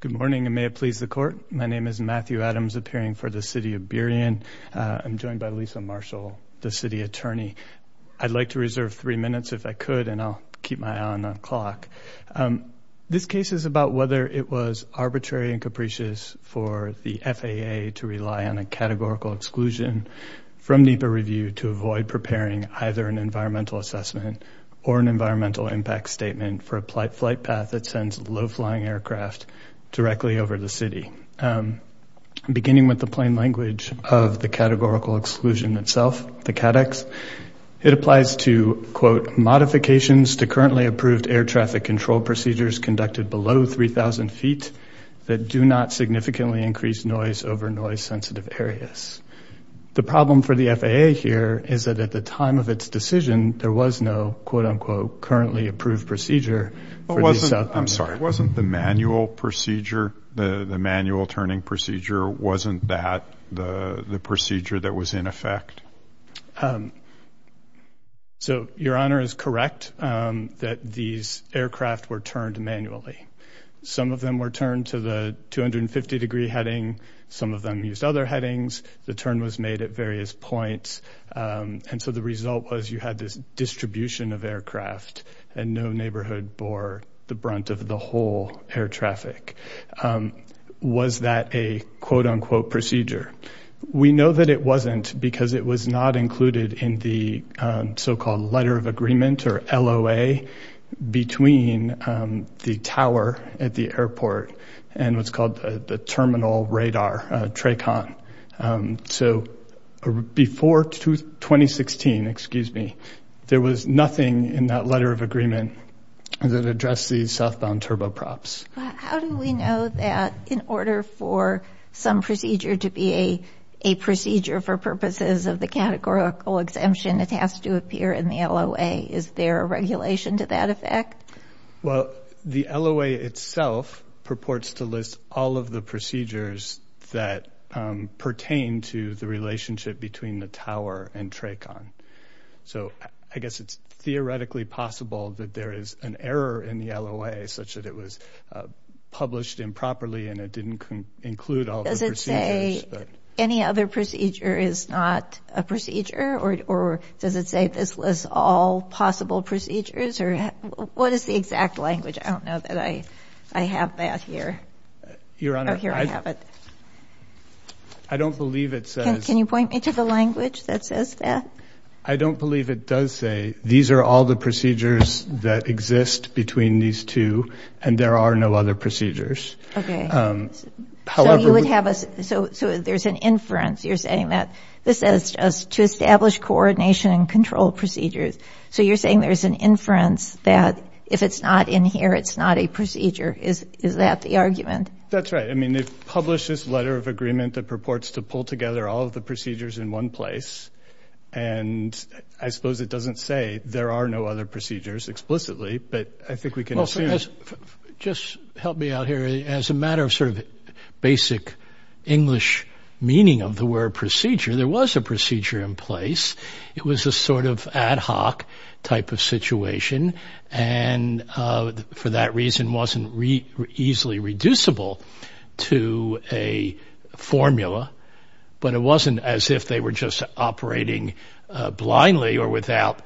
Good morning, and may it please the Court. My name is Matthew Adams, appearing for the City of Burien. I'm joined by Lisa Marshall, the City Attorney. I'd like to reserve three minutes if I could, and I'll keep my eye on the clock. This case is about whether it was arbitrary and capricious for the FAA to rely on a categorical exclusion from NEPA review to avoid preparing either an environmental assessment or an environmental impact statement for a flight path that sends low-flying aircraft directly over the city. Beginning with the plain language of the categorical exclusion itself, the CADEX, it applies to, quote, modifications to currently approved air traffic control procedures conducted below 3,000 feet that do not significantly increase noise over noise-sensitive areas. The problem for the FAA here is that at the time of its decision, there was no, quote-unquote, currently approved procedure for the southbound aircraft. I'm sorry, wasn't the manual procedure, the manual turning procedure, wasn't that the procedure that was in effect? So Your Honor is correct that these aircraft were turned manually. Some of them were turned to the 250-degree heading. Some of them used other headings. The turn was made at various points. And so the result was you had this distribution of aircraft and no neighborhood bore the brunt of the whole air traffic. Was that a, quote-unquote, procedure? We know that it wasn't because it was not included in the so-called letter of agreement, or LOA, between the tower at the airport and what's called the terminal radar, TRACON. So before 2016, excuse me, there was nothing in that letter of agreement that addressed these southbound turboprops. How do we know that in order for some procedure to be a procedure for purposes of the categorical exemption, it has to appear in the LOA? Is there a regulation to that effect? Well, the LOA itself purports to list all of the procedures that pertain to the relationship between the tower and TRACON. So I guess it's theoretically possible that there is an error in the LOA such that it was published improperly and it didn't include all the procedures. Any other procedure is not a procedure? Or does it say this lists all possible procedures? What is the exact language? I don't know that I have that here. Your Honor, I don't believe it says... Can you point me to the language that says that? I don't believe it does say, these are all the procedures that exist between these two and there are no other procedures. Okay. So you would have a... So there's an inference. You're saying that this is just to establish coordination and control procedures. So you're saying there's an inference that if it's not in here, it's not a procedure. Is that the argument? That's right. I mean, they've published this letter of agreement that purports to pull together all of the procedures in one place. And I suppose it doesn't say there are no other procedures explicitly, but I think we can assume... Just help me out here. As a matter of sort of basic English meaning of the word procedure, there was a procedure in place. It was a sort of ad hoc type of situation and for that reason wasn't easily reducible to a formula, but it wasn't as if they were just operating blindly or without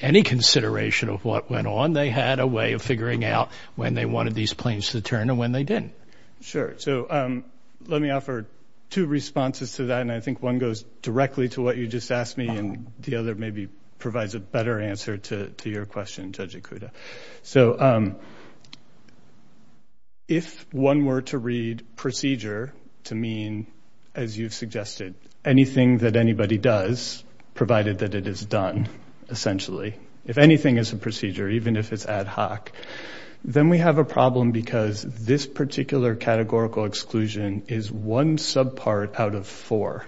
any consideration of what went on. They had a way of figuring out when they wanted these planes to turn and when they didn't. Sure. So let me offer two responses to that and I think one goes directly to what you just asked me and the other maybe provides a better answer to your question, Judge Ikuda. If one were to read procedure to mean, as you've suggested, anything that anybody does provided that it is done, essentially, if anything is a procedure, even if it's ad hoc, then we have a problem because this particular categorical exclusion is one subpart out of four.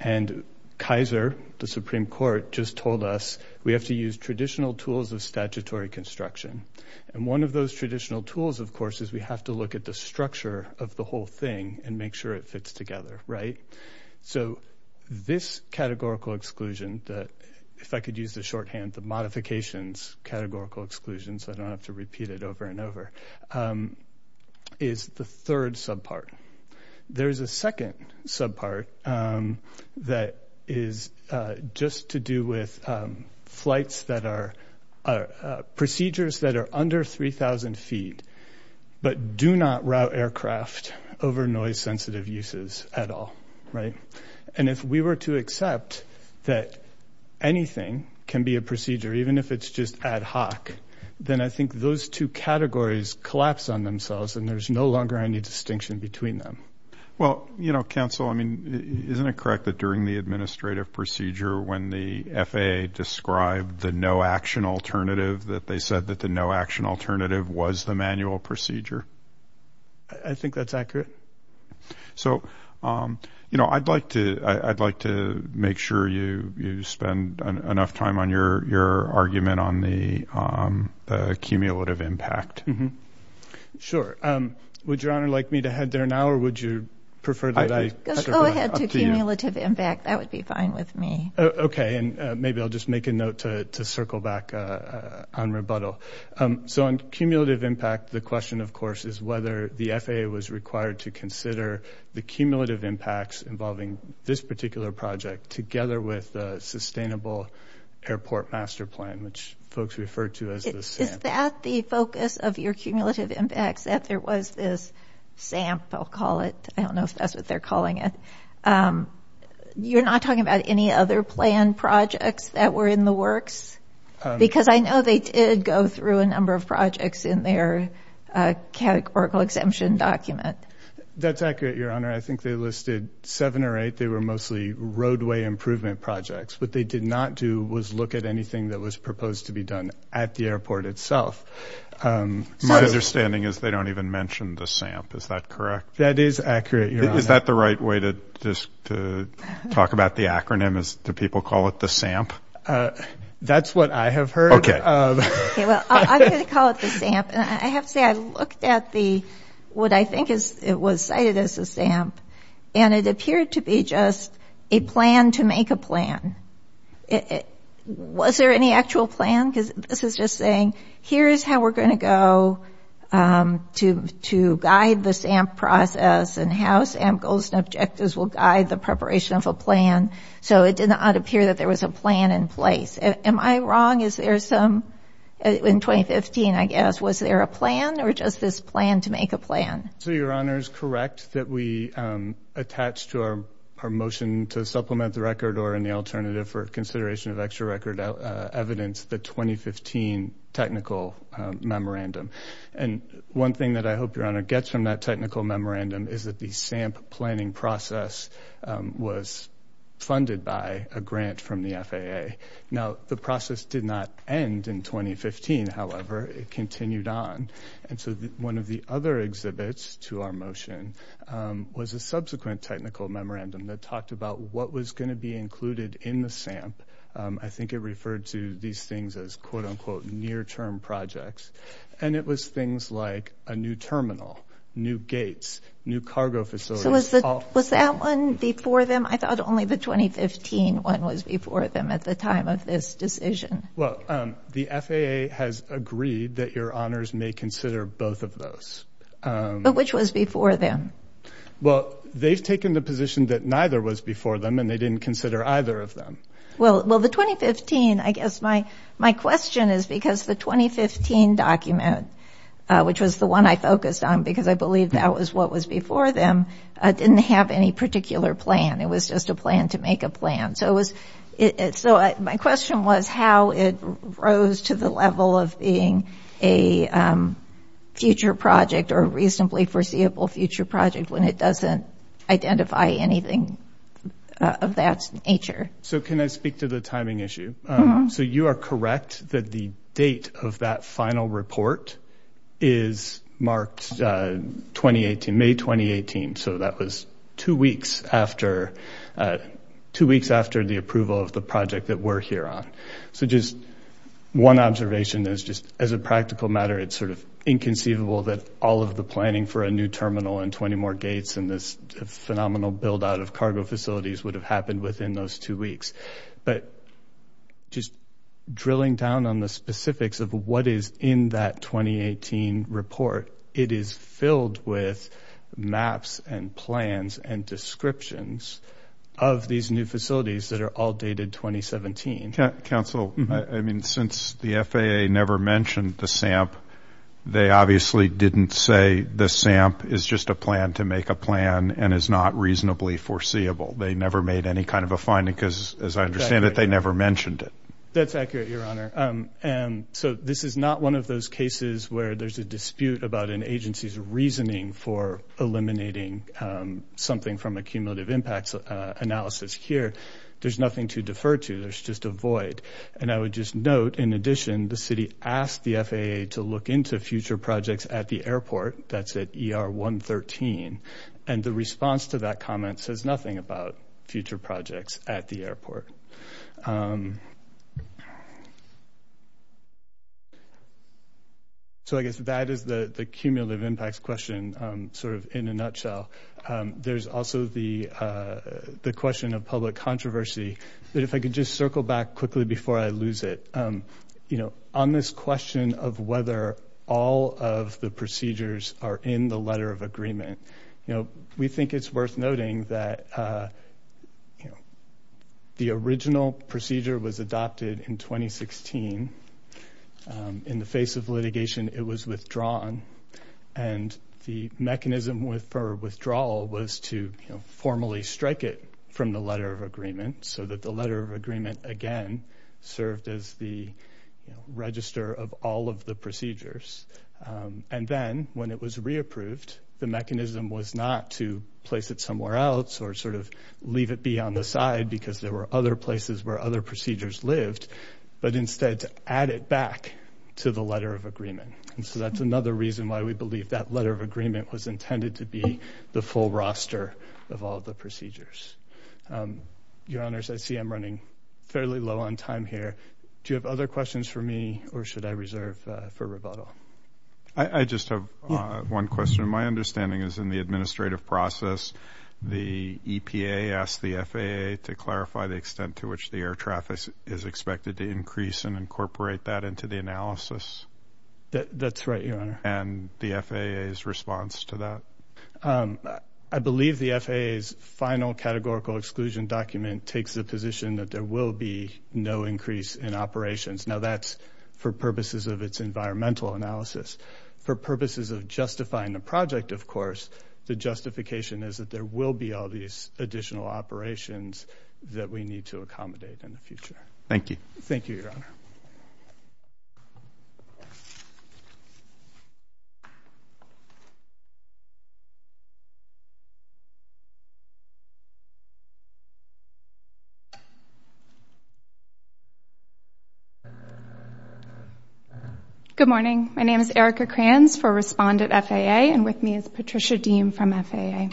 And Kaiser, the Supreme Court, just told us we have to use traditional tools of statutory construction. And one of those traditional tools, of course, is we have to look at the structure of the whole thing and make sure it fits together, right? So this categorical exclusion that, if I could use the shorthand, the modifications categorical exclusion, so I don't have to repeat it over and over, is the third subpart. There's a second subpart that is just to do with flights that are procedures that are under 3,000 feet, but do not route aircraft over noise sensitive uses at all, right? And if we were to accept that anything can be a procedure, even if it's just ad hoc, then I think those two categories collapse on themselves and there's no longer any distinction between them. Well, you know, counsel, I mean, isn't it correct that during the administrative procedure when the FAA described the no action alternative that they said that the no action alternative was the manual procedure? I think that's accurate. So, you know, I'd like to make sure you spend enough time on your argument on the cumulative impact. Sure. Would Your Honor like me to head there now or would you prefer that I... Go ahead to cumulative impact. That would be fine with me. Okay. And maybe I'll just make a note to circle back on rebuttal. So on cumulative impact, the question, of course, is whether the FAA was required to consider the cumulative impacts involving this particular project together with the sustainable airport master plan, which folks referred to as the SAMP. Is that the focus of your cumulative impacts, that there was this SAMP, I'll call it? I don't know if that's what they're calling it. You're not talking about any other planned projects that were in the works? Because I know they did go through a number of projects in their categorical exemption document. That's accurate, Your Honor. I think they listed seven or eight. They were mostly roadway improvement projects. What they did not do was look at anything that was proposed to be done at the airport itself. My understanding is they don't even mention the SAMP. Is that correct? That is accurate, Your Honor. Is that the right way to talk about the acronym? Do people call it the SAMP? That's what I have heard. Okay. Okay, well, I'm going to call it the SAMP. And I have to say, I looked at what I think was cited as the SAMP, and it appeared to be just a plan to make a plan. Was there any actual plan? Because this is just saying, here's how we're going to go to guide the SAMP process and how SAMP goals and objectives will guide the preparation of a plan. So it did not appear that there was a plan in place. Am I wrong? In 2015, I guess, was there a plan or just this plan to make a plan? So, Your Honor, it's correct that we attach to our motion to supplement the record or in the alternative for consideration of extra record evidence, the 2015 technical memorandum. And one thing that I hope Your Honor gets from that technical memorandum is that the SAMP planning process was funded by a grant from the FAA. Now, the process did not end in 2015, however, it continued on. And so one of the other exhibits to our motion was a subsequent technical memorandum that talked about what was going to be included in the SAMP. I think it referred to these things as, quote, unquote, near-term projects. And it was things like a new terminal, new gates, new cargo facilities. So was that one before them? I thought only the 2015 one was before them at the time of this decision. Well, the FAA has agreed that Your Honors may consider both of those. But which was before them? Well, they've taken the position that neither was before them and they didn't consider either of them. Well, the 2015, I guess my question is because the 2015 document, which was the one I focused on because I believe that was what was before them, didn't have any particular plan. It was just a plan to make a plan. So my question was how it rose to the level of being a future project or a reasonably foreseeable future project when it doesn't identify anything of that nature. So can I speak to the timing issue? So you are correct that the date of that final report is marked 2018, May 2018. So that was two weeks after the approval of the project that we're here on. So just one observation is just as a practical matter, it's sort of inconceivable that all of the planning for a new terminal and 20 more gates and this phenomenal buildout of cargo facilities would have happened within those two weeks. But just drilling down on the specifics of what is in that 2018 report, it is filled with maps and plans and descriptions of these new facilities that are all dated 2017. Council, I mean, since the FAA never mentioned the SAMP, they obviously didn't say the SAMP is just a plan to make a plan and is not reasonably foreseeable. They never made any kind of a finding because, as I understand it, they never mentioned it. That's accurate, Your Honor. So this is not one of those cases where there's a dispute about an agency's reasoning for eliminating something from a cumulative impacts analysis here. There's nothing to defer to. There's just a void. And I would just note, in addition, the city asked the FAA to look into future projects at the airport that's at ER 113. And the response to that comment says nothing about future projects at the airport. So I guess that is the cumulative impacts question sort of in a nutshell. There's also the question of public controversy. But if I could just circle back quickly before I lose it. You know, on this question of whether all of the procedures are in the letter of agreement, you know, we think it's worth noting that, you know, the original procedure was adopted in 2016. In the face of litigation, it was withdrawn. And the mechanism for withdrawal was to formally strike it from the letter of agreement so that the letter of agreement, again, served as the register of all of the procedures. And then when it was re-approved, the mechanism was not to place it somewhere else or sort of leave it be on the side because there were other places where other procedures lived, but instead to add it back to the letter of agreement. And so that's another reason why we believe that letter of agreement was intended to be the full roster of all the procedures. Your Honors, I see I'm running fairly low on time here. Do you have other questions for me or should I reserve for rebuttal? I just have one question. My understanding is in the administrative process, the EPA asked the FAA to clarify the extent to which the air traffic is expected to increase and incorporate that into the analysis. That's right, Your Honor. And the FAA's response to that? I believe the FAA's final categorical exclusion document takes the position that there will be no increase in operations. Now, that's for purposes of its environmental analysis. For purposes of justifying the project, of course, the justification is that there will be all these additional operations that we need to accommodate in the future. Thank you. Thank you, Your Honor. Good morning. My name is Erica Kranz for Respondent FAA and with me is Patricia Deem from FAA.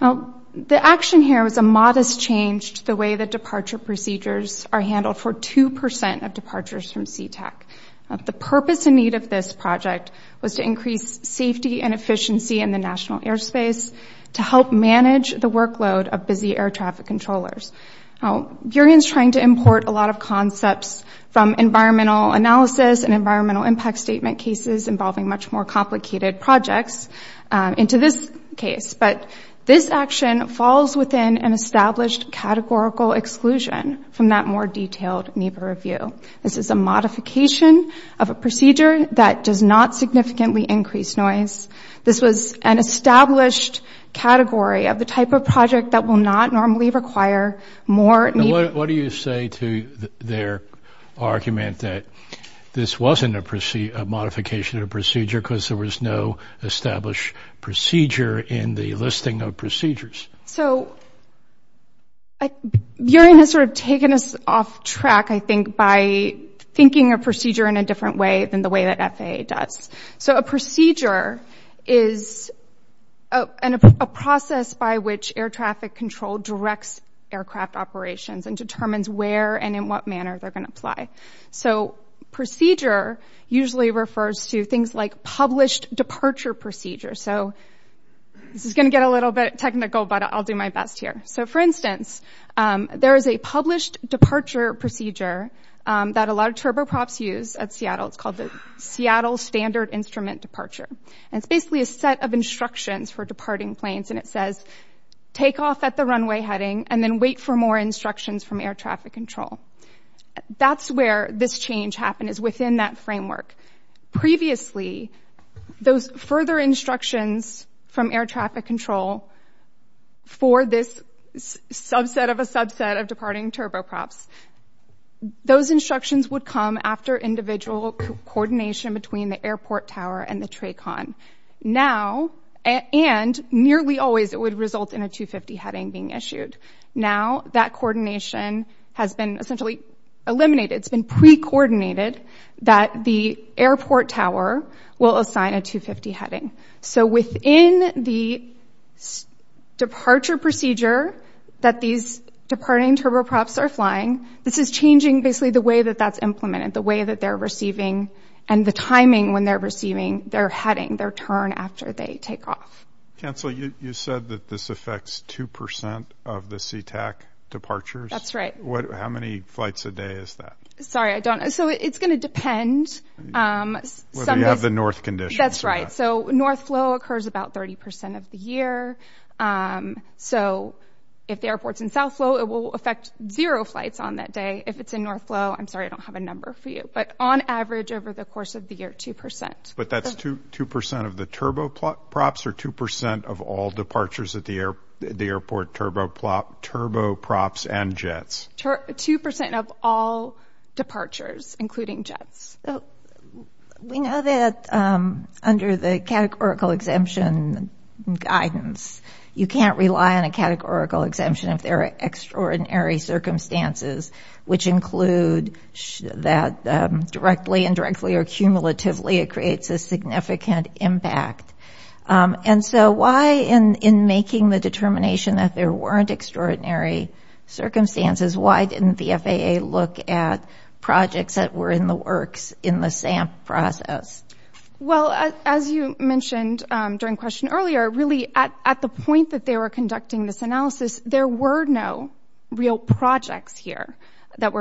Now, the action here was a modest change to the way the departure procedures are handled for 2% of departures from Sea-Tac. The purpose and need of this project was to increase safety and efficiency in the national airspace to help manage the workload of busy air traffic controllers. Now, Burien's trying to import a lot of concepts from environmental analysis and environmental impact statement cases involving much more complicated projects into this case, but this action falls within an established categorical exclusion from that more detailed NEPA review. This is a modification of a procedure that does not significantly increase noise. This was an established category of the type of project that will not normally require more NEPA. What do you say to their argument that this wasn't a modification of a procedure because there was no established procedure in the listing of procedures? So, Burien has sort of taken us off track, I think, by thinking a procedure in a different way than the way that FAA does. So, a procedure is a process by which air traffic control directs aircraft operations and determines where and in what manner they're going to apply. So, procedure usually refers to things like published departure procedures. So, this is going to get a little bit technical, but I'll do my best here. So, for instance, there is a published departure procedure that a lot of turboprops use at Seattle. It's called the Seattle Standard Instrument Departure. And it's basically a set of instructions for departing planes, and it says, take off at the runway heading and then wait for more instructions from air traffic control. That's where this change happened, is within that framework. Previously, those further instructions from air traffic control for this subset of a subset of departing turboprops, those instructions would come after individual coordination between the airport tower and the TRACON. Now, and nearly always, it would result in a 250 heading being issued. Now, that coordination has been essentially eliminated. It's been pre-coordinated that the airport tower will assign a 250 heading. So, within the departure procedure that these departing turboprops are flying, this is changing basically the way that that's implemented, the way that they're receiving and the timing when they're receiving their heading, their turn after they take off. Cancel. You said that this affects 2 percent of the SeaTac departures? That's right. How many flights a day is that? Sorry, I don't know. So, it's going to depend. Whether you have the north conditions or not. Right. So, north flow occurs about 30 percent of the year. So, if the airport's in south flow, it will affect zero flights on that day. If it's in north flow, I'm sorry, I don't have a number for you, but on average over the course of the year, 2 percent. But that's 2 percent of the turboprops or 2 percent of all departures at the airport turboprops and jets? 2 percent of all departures, including jets. We know that under the categorical exemption guidance, you can't rely on a categorical exemption if there are extraordinary circumstances, which include that directly, indirectly, or cumulatively it creates a significant impact. And so, why in making the determination that there weren't extraordinary circumstances, why didn't the FAA look at projects that were in the works in the SAMP process? Well, as you mentioned during question earlier, really, at the point that they were conducting this analysis, there were no real projects here that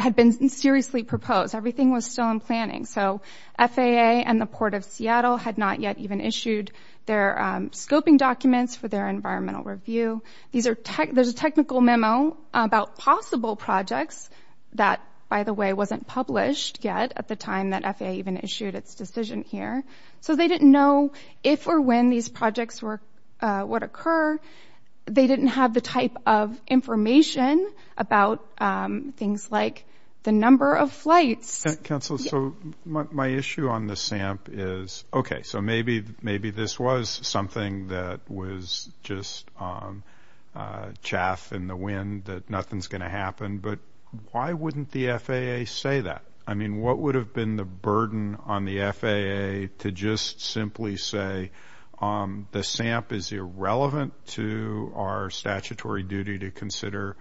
had been seriously proposed. Everything was still in planning. So, FAA and the Port of Seattle had not yet even issued their scoping documents for their environmental review. There's a technical memo about possible projects that, by the way, wasn't published yet at the time that FAA even issued its decision here. So, they didn't know if or when these projects would occur. They didn't have the type of information about things like the number of flights. So, my issue on the SAMP is, okay, so maybe this was something that was just chaff in the wind, that nothing's going to happen, but why wouldn't the FAA say that? I mean, what would have been the burden on the FAA to just simply say, the SAMP is irrelevant to our statutory duty to consider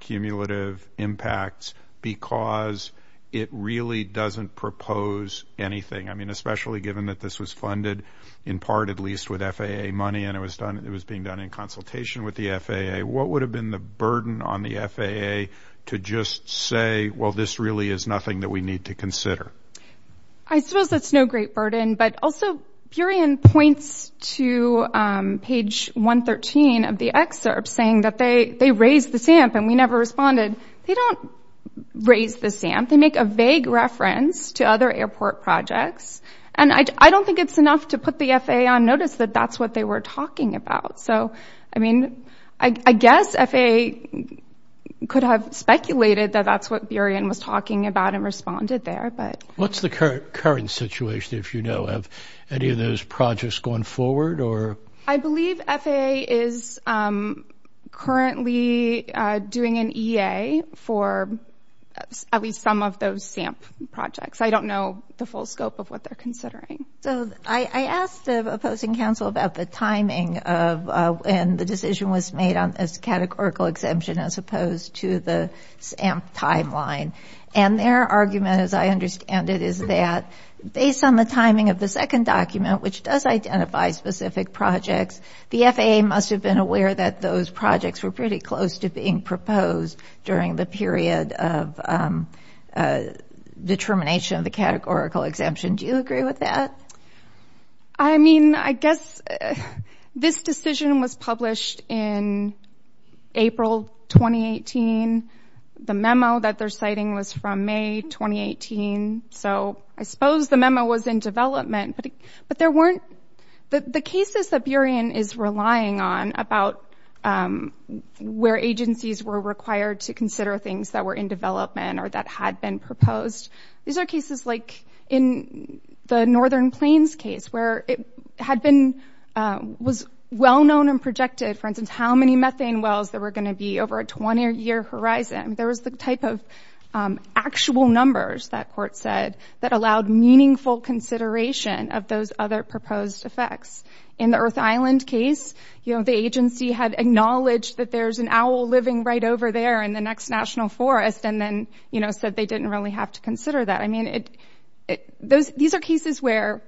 cumulative impacts because it really doesn't propose anything? I mean, especially given that this was funded in part, at least, with FAA money, and it was being done in consultation with the FAA. What would have been the burden on the FAA to just say, well, this really is nothing that we need to consider? I suppose that's no great burden. But also, Burien points to page 113 of the excerpt saying that they raised the SAMP, and we never responded. They don't raise the SAMP. They make a vague reference to other airport projects. And I don't think it's enough to put the FAA on notice that that's what they were talking about. So, I mean, I guess FAA could have speculated that that's what Burien was talking about and responded there. What's the current situation, if you know of any of those projects going forward? I believe FAA is currently doing an EA for at least some of those SAMP projects. I don't know the full scope of what they're considering. So I asked the opposing counsel about the timing of when the decision was made on this categorical exemption as opposed to the SAMP timeline. And their argument, as I understand it, is that based on the timing of the second document, which does identify specific projects, the FAA must have been aware that those projects were pretty close to being proposed during the period of determination of the categorical exemption. Do you agree with that? I mean, I guess this decision was published in April 2018. The memo that they're citing was from May 2018. So I suppose the memo was in development. But there weren't the cases that Burien is relying on about where agencies were required to consider things that were in development or that had been proposed. These are cases like in the Northern Plains case where it was well-known and projected, for instance, how many methane wells there were going to be over a 20-year horizon. There was the type of actual numbers that court said that allowed meaningful consideration of those other proposed effects. In the Earth Island case, the agency had acknowledged that there's an owl living right over there in the next national forest and then said they didn't really have to consider that. I mean, these are cases where,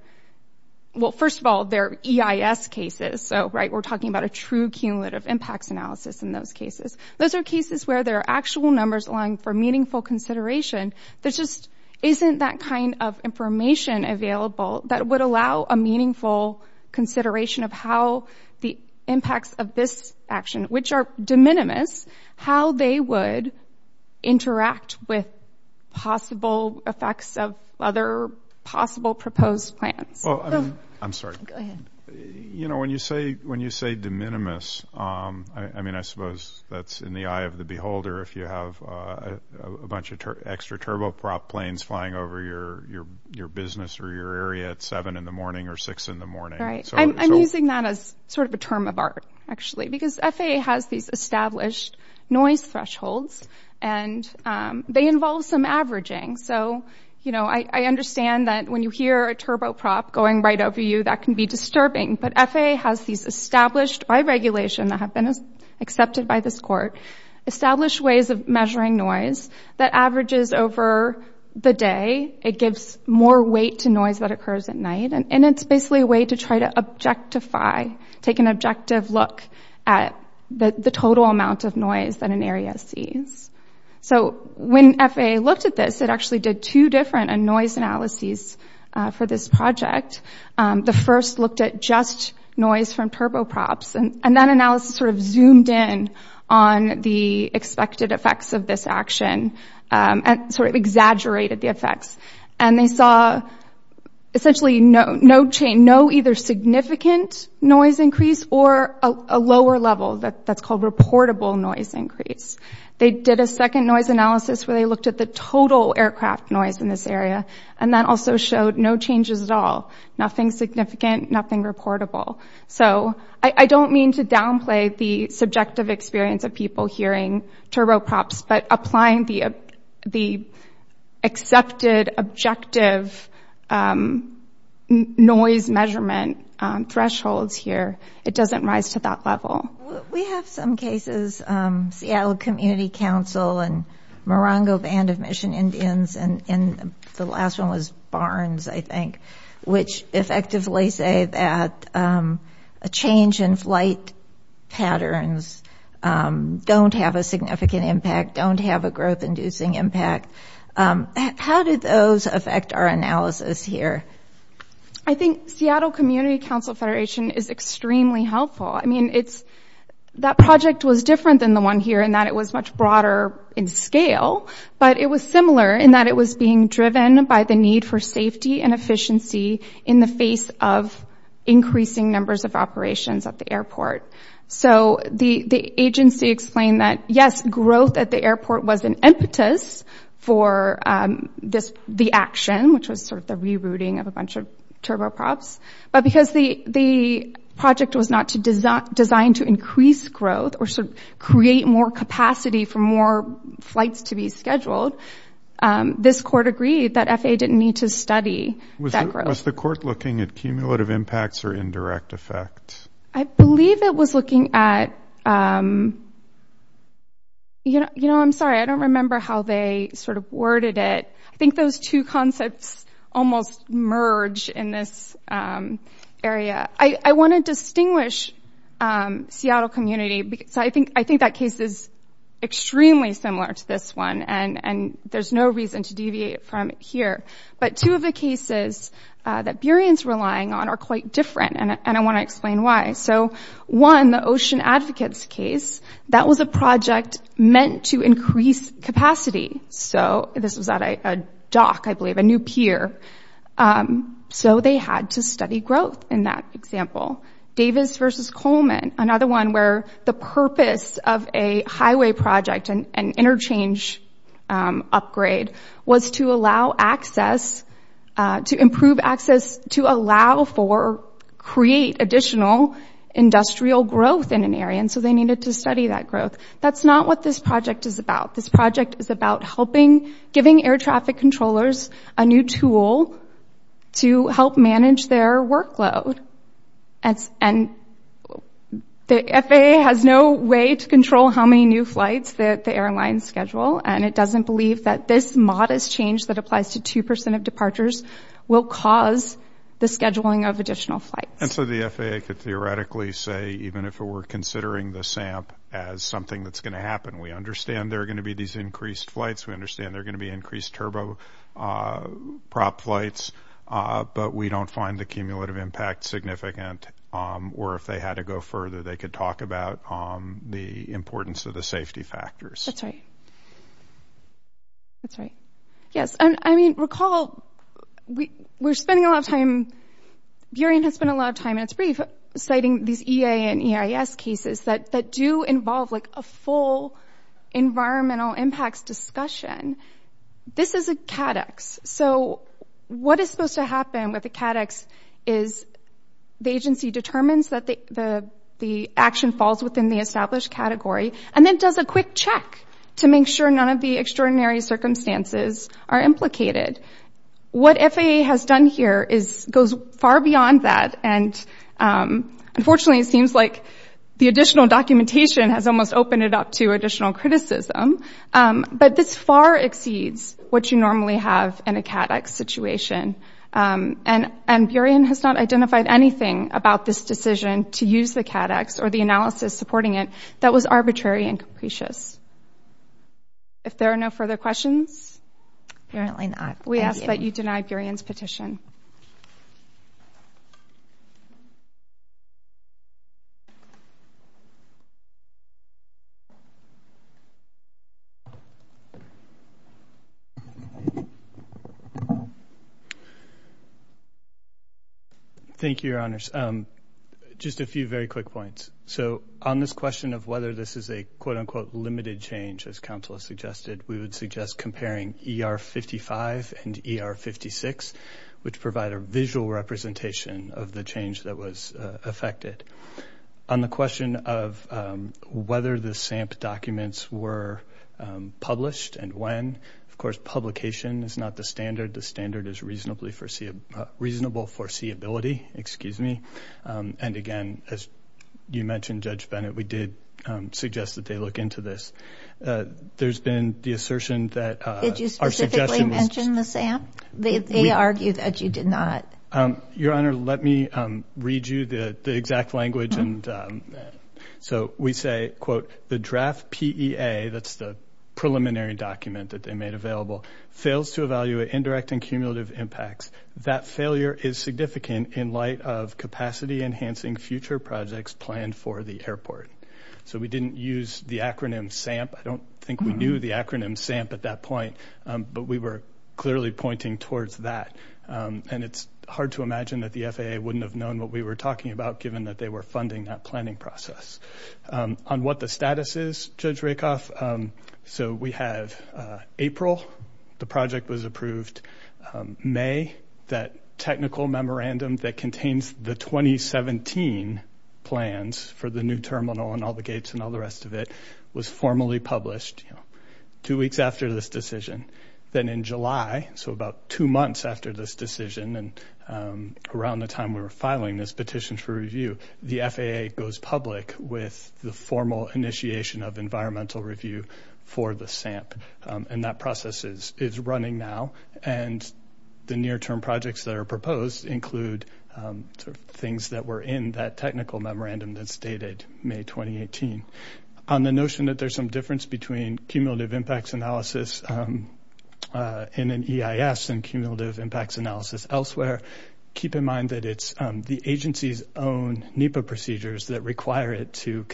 well, first of all, they're EIS cases. So we're talking about a true cumulative impacts analysis in those cases. Those are cases where there are actual numbers allowing for meaningful consideration. There just isn't that kind of information available that would allow a meaningful consideration of how the impacts of this action, which are de minimis, how they would interact with possible effects of other possible proposed plans. I'm sorry. Go ahead. You know, when you say de minimis, I mean, I suppose that's in the eye of the beholder if you have a bunch of extra turboprop planes flying over your business or your area at 7 in the morning or 6 in the morning. Right. I'm using that as sort of a term of art, actually, because FAA has these established noise thresholds, and they involve some averaging. I understand that when you hear a turboprop going right over you, that can be disturbing, but FAA has these established by regulation that have been accepted by this court, established ways of measuring noise that averages over the day. It gives more weight to noise that occurs at night, and it's basically a way to try to objectify, take an objective look at the total amount of noise that an area sees. When FAA looked at this, it actually did two different noise analyses for this project. The first looked at just noise from turboprops, and that analysis sort of zoomed in on the expected effects of this action and sort of exaggerated the effects, and they saw essentially no either significant noise increase or a lower level. That's called reportable noise increase. They did a second noise analysis where they looked at the total aircraft noise in this area, and that also showed no changes at all, nothing significant, nothing reportable. So I don't mean to downplay the subjective experience of people hearing turboprops, but applying the accepted objective noise measurement thresholds here, it doesn't rise to that level. We have some cases, Seattle Community Council and Morongo Band of Mission Indians, and the last one was Barnes, I think, which effectively say that a change in flight patterns don't have a significant impact, don't have a growth-inducing impact. How did those affect our analysis here? I think Seattle Community Council Federation is extremely helpful. I mean, that project was different than the one here in that it was much broader in scale, but it was similar in that it was being driven by the need for safety and efficiency in the face of increasing numbers of operations at the airport. So the agency explained that, yes, growth at the airport was an impetus for the action, which was sort of the rerouting of a bunch of turboprops, but because the project was not designed to increase growth or sort of create more capacity for more flights to be scheduled, this court agreed that FAA didn't need to study that growth. Was the court looking at cumulative impacts or indirect effects? I believe it was looking at, you know, I'm sorry, I don't remember how they sort of worded it. I think those two concepts almost merge in this area. I want to distinguish Seattle Community, because I think that case is extremely similar to this one, and there's no reason to deviate from it here. But two of the cases that Burien's relying on are quite different, and I want to explain why. So one, the Ocean Advocates case, that was a project meant to increase capacity. So this was at a dock, I believe, a new pier. So they had to study growth in that example. Davis v. Coleman, another one where the purpose of a highway project, an interchange upgrade, was to allow access, to improve access, to allow for, create additional industrial growth in an area, and so they needed to study that growth. That's not what this project is about. This project is about helping, giving air traffic controllers a new tool to help manage their workload, and the FAA has no way to control how many new flights that the airlines schedule, and it doesn't believe that this modest change that applies to 2% of departures will cause the scheduling of additional flights. And so the FAA could theoretically say, even if we're considering the SAMP as something that's going to happen, we understand there are going to be these increased flights, we understand there are going to be increased turboprop flights, but we don't find the cumulative impact significant, or if they had to go further, they could talk about the importance of the safety factors. That's right. That's right. Yes, I mean, recall, we're spending a lot of time, Burien has spent a lot of time, and it's brief, citing these EA and EIS cases that do involve, like, a full environmental impacts discussion. This is a CADEX. So what is supposed to happen with the CADEX is the agency determines that the action falls within the established category and then does a quick check to make sure none of the extraordinary circumstances are implicated. What FAA has done here goes far beyond that and, unfortunately, it seems like the additional documentation has almost opened it up to additional criticism, but this far exceeds what you normally have in a CADEX situation, and Burien has not identified anything about this decision to use the CADEX or the analysis supporting it that was arbitrary and capricious. If there are no further questions? Apparently not. We ask that you deny Burien's petition. Thank you, Your Honors. Just a few very quick points. So on this question of whether this is a, quote-unquote, limited change, as counsel has suggested, we would suggest comparing ER-55 and ER-56, which provide a visual representation of the change that was affected. On the question of whether the SAMP documents were published and when, of course publication is not the standard. The standard is reasonable foreseeability, excuse me. And, again, as you mentioned, Judge Bennett, we did suggest that they look into this. There's been the assertion that our suggestion was just... Did you specifically mention the SAMP? They argue that you did not. Your Honor, let me read you the exact language. So we say, quote, the draft PEA, that's the preliminary document that they made available, fails to evaluate indirect and cumulative impacts. That failure is significant in light of capacity-enhancing future projects planned for the airport. So we didn't use the acronym SAMP. I don't think we knew the acronym SAMP at that point, but we were clearly pointing towards that. And it's hard to imagine that the FAA wouldn't have known what we were talking about given that they were funding that planning process. On what the status is, Judge Rakoff, so we have April, the project was approved. May, that technical memorandum that contains the 2017 plans for the new terminal and all the gates and all the rest of it was formally published two weeks after this decision. Then in July, so about two months after this decision and around the time we were filing this petition for review, the FAA goes public with the formal initiation of environmental review for the SAMP. And that process is running now. And the near-term projects that are proposed include things that were in that technical memorandum that's dated May 2018. On the notion that there's some difference between cumulative impacts analysis in an EIS and cumulative impacts analysis elsewhere, keep in mind that it's the agency's own NEPA procedures that require it to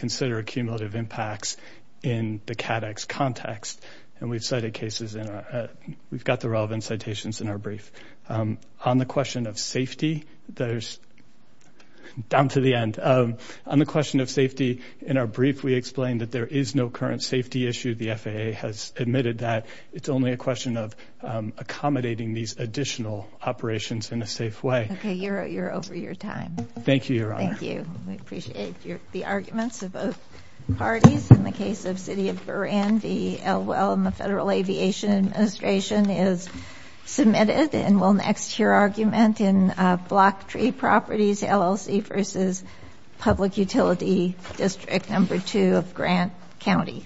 And we've cited cases in our – we've got the relevant citations in our brief. On the question of safety, there's – down to the end. On the question of safety, in our brief we explained that there is no current safety issue. The FAA has admitted that. It's only a question of accommodating these additional operations in a safe way. Okay, you're over your time. Thank you, Your Honor. Thank you. We appreciate the arguments of both parties. In the case of City of Buran, the Elwell and the Federal Aviation Administration is submitted and will next hear argument in Block Tree Properties LLC versus Public Utility District No. 2 of Grant County.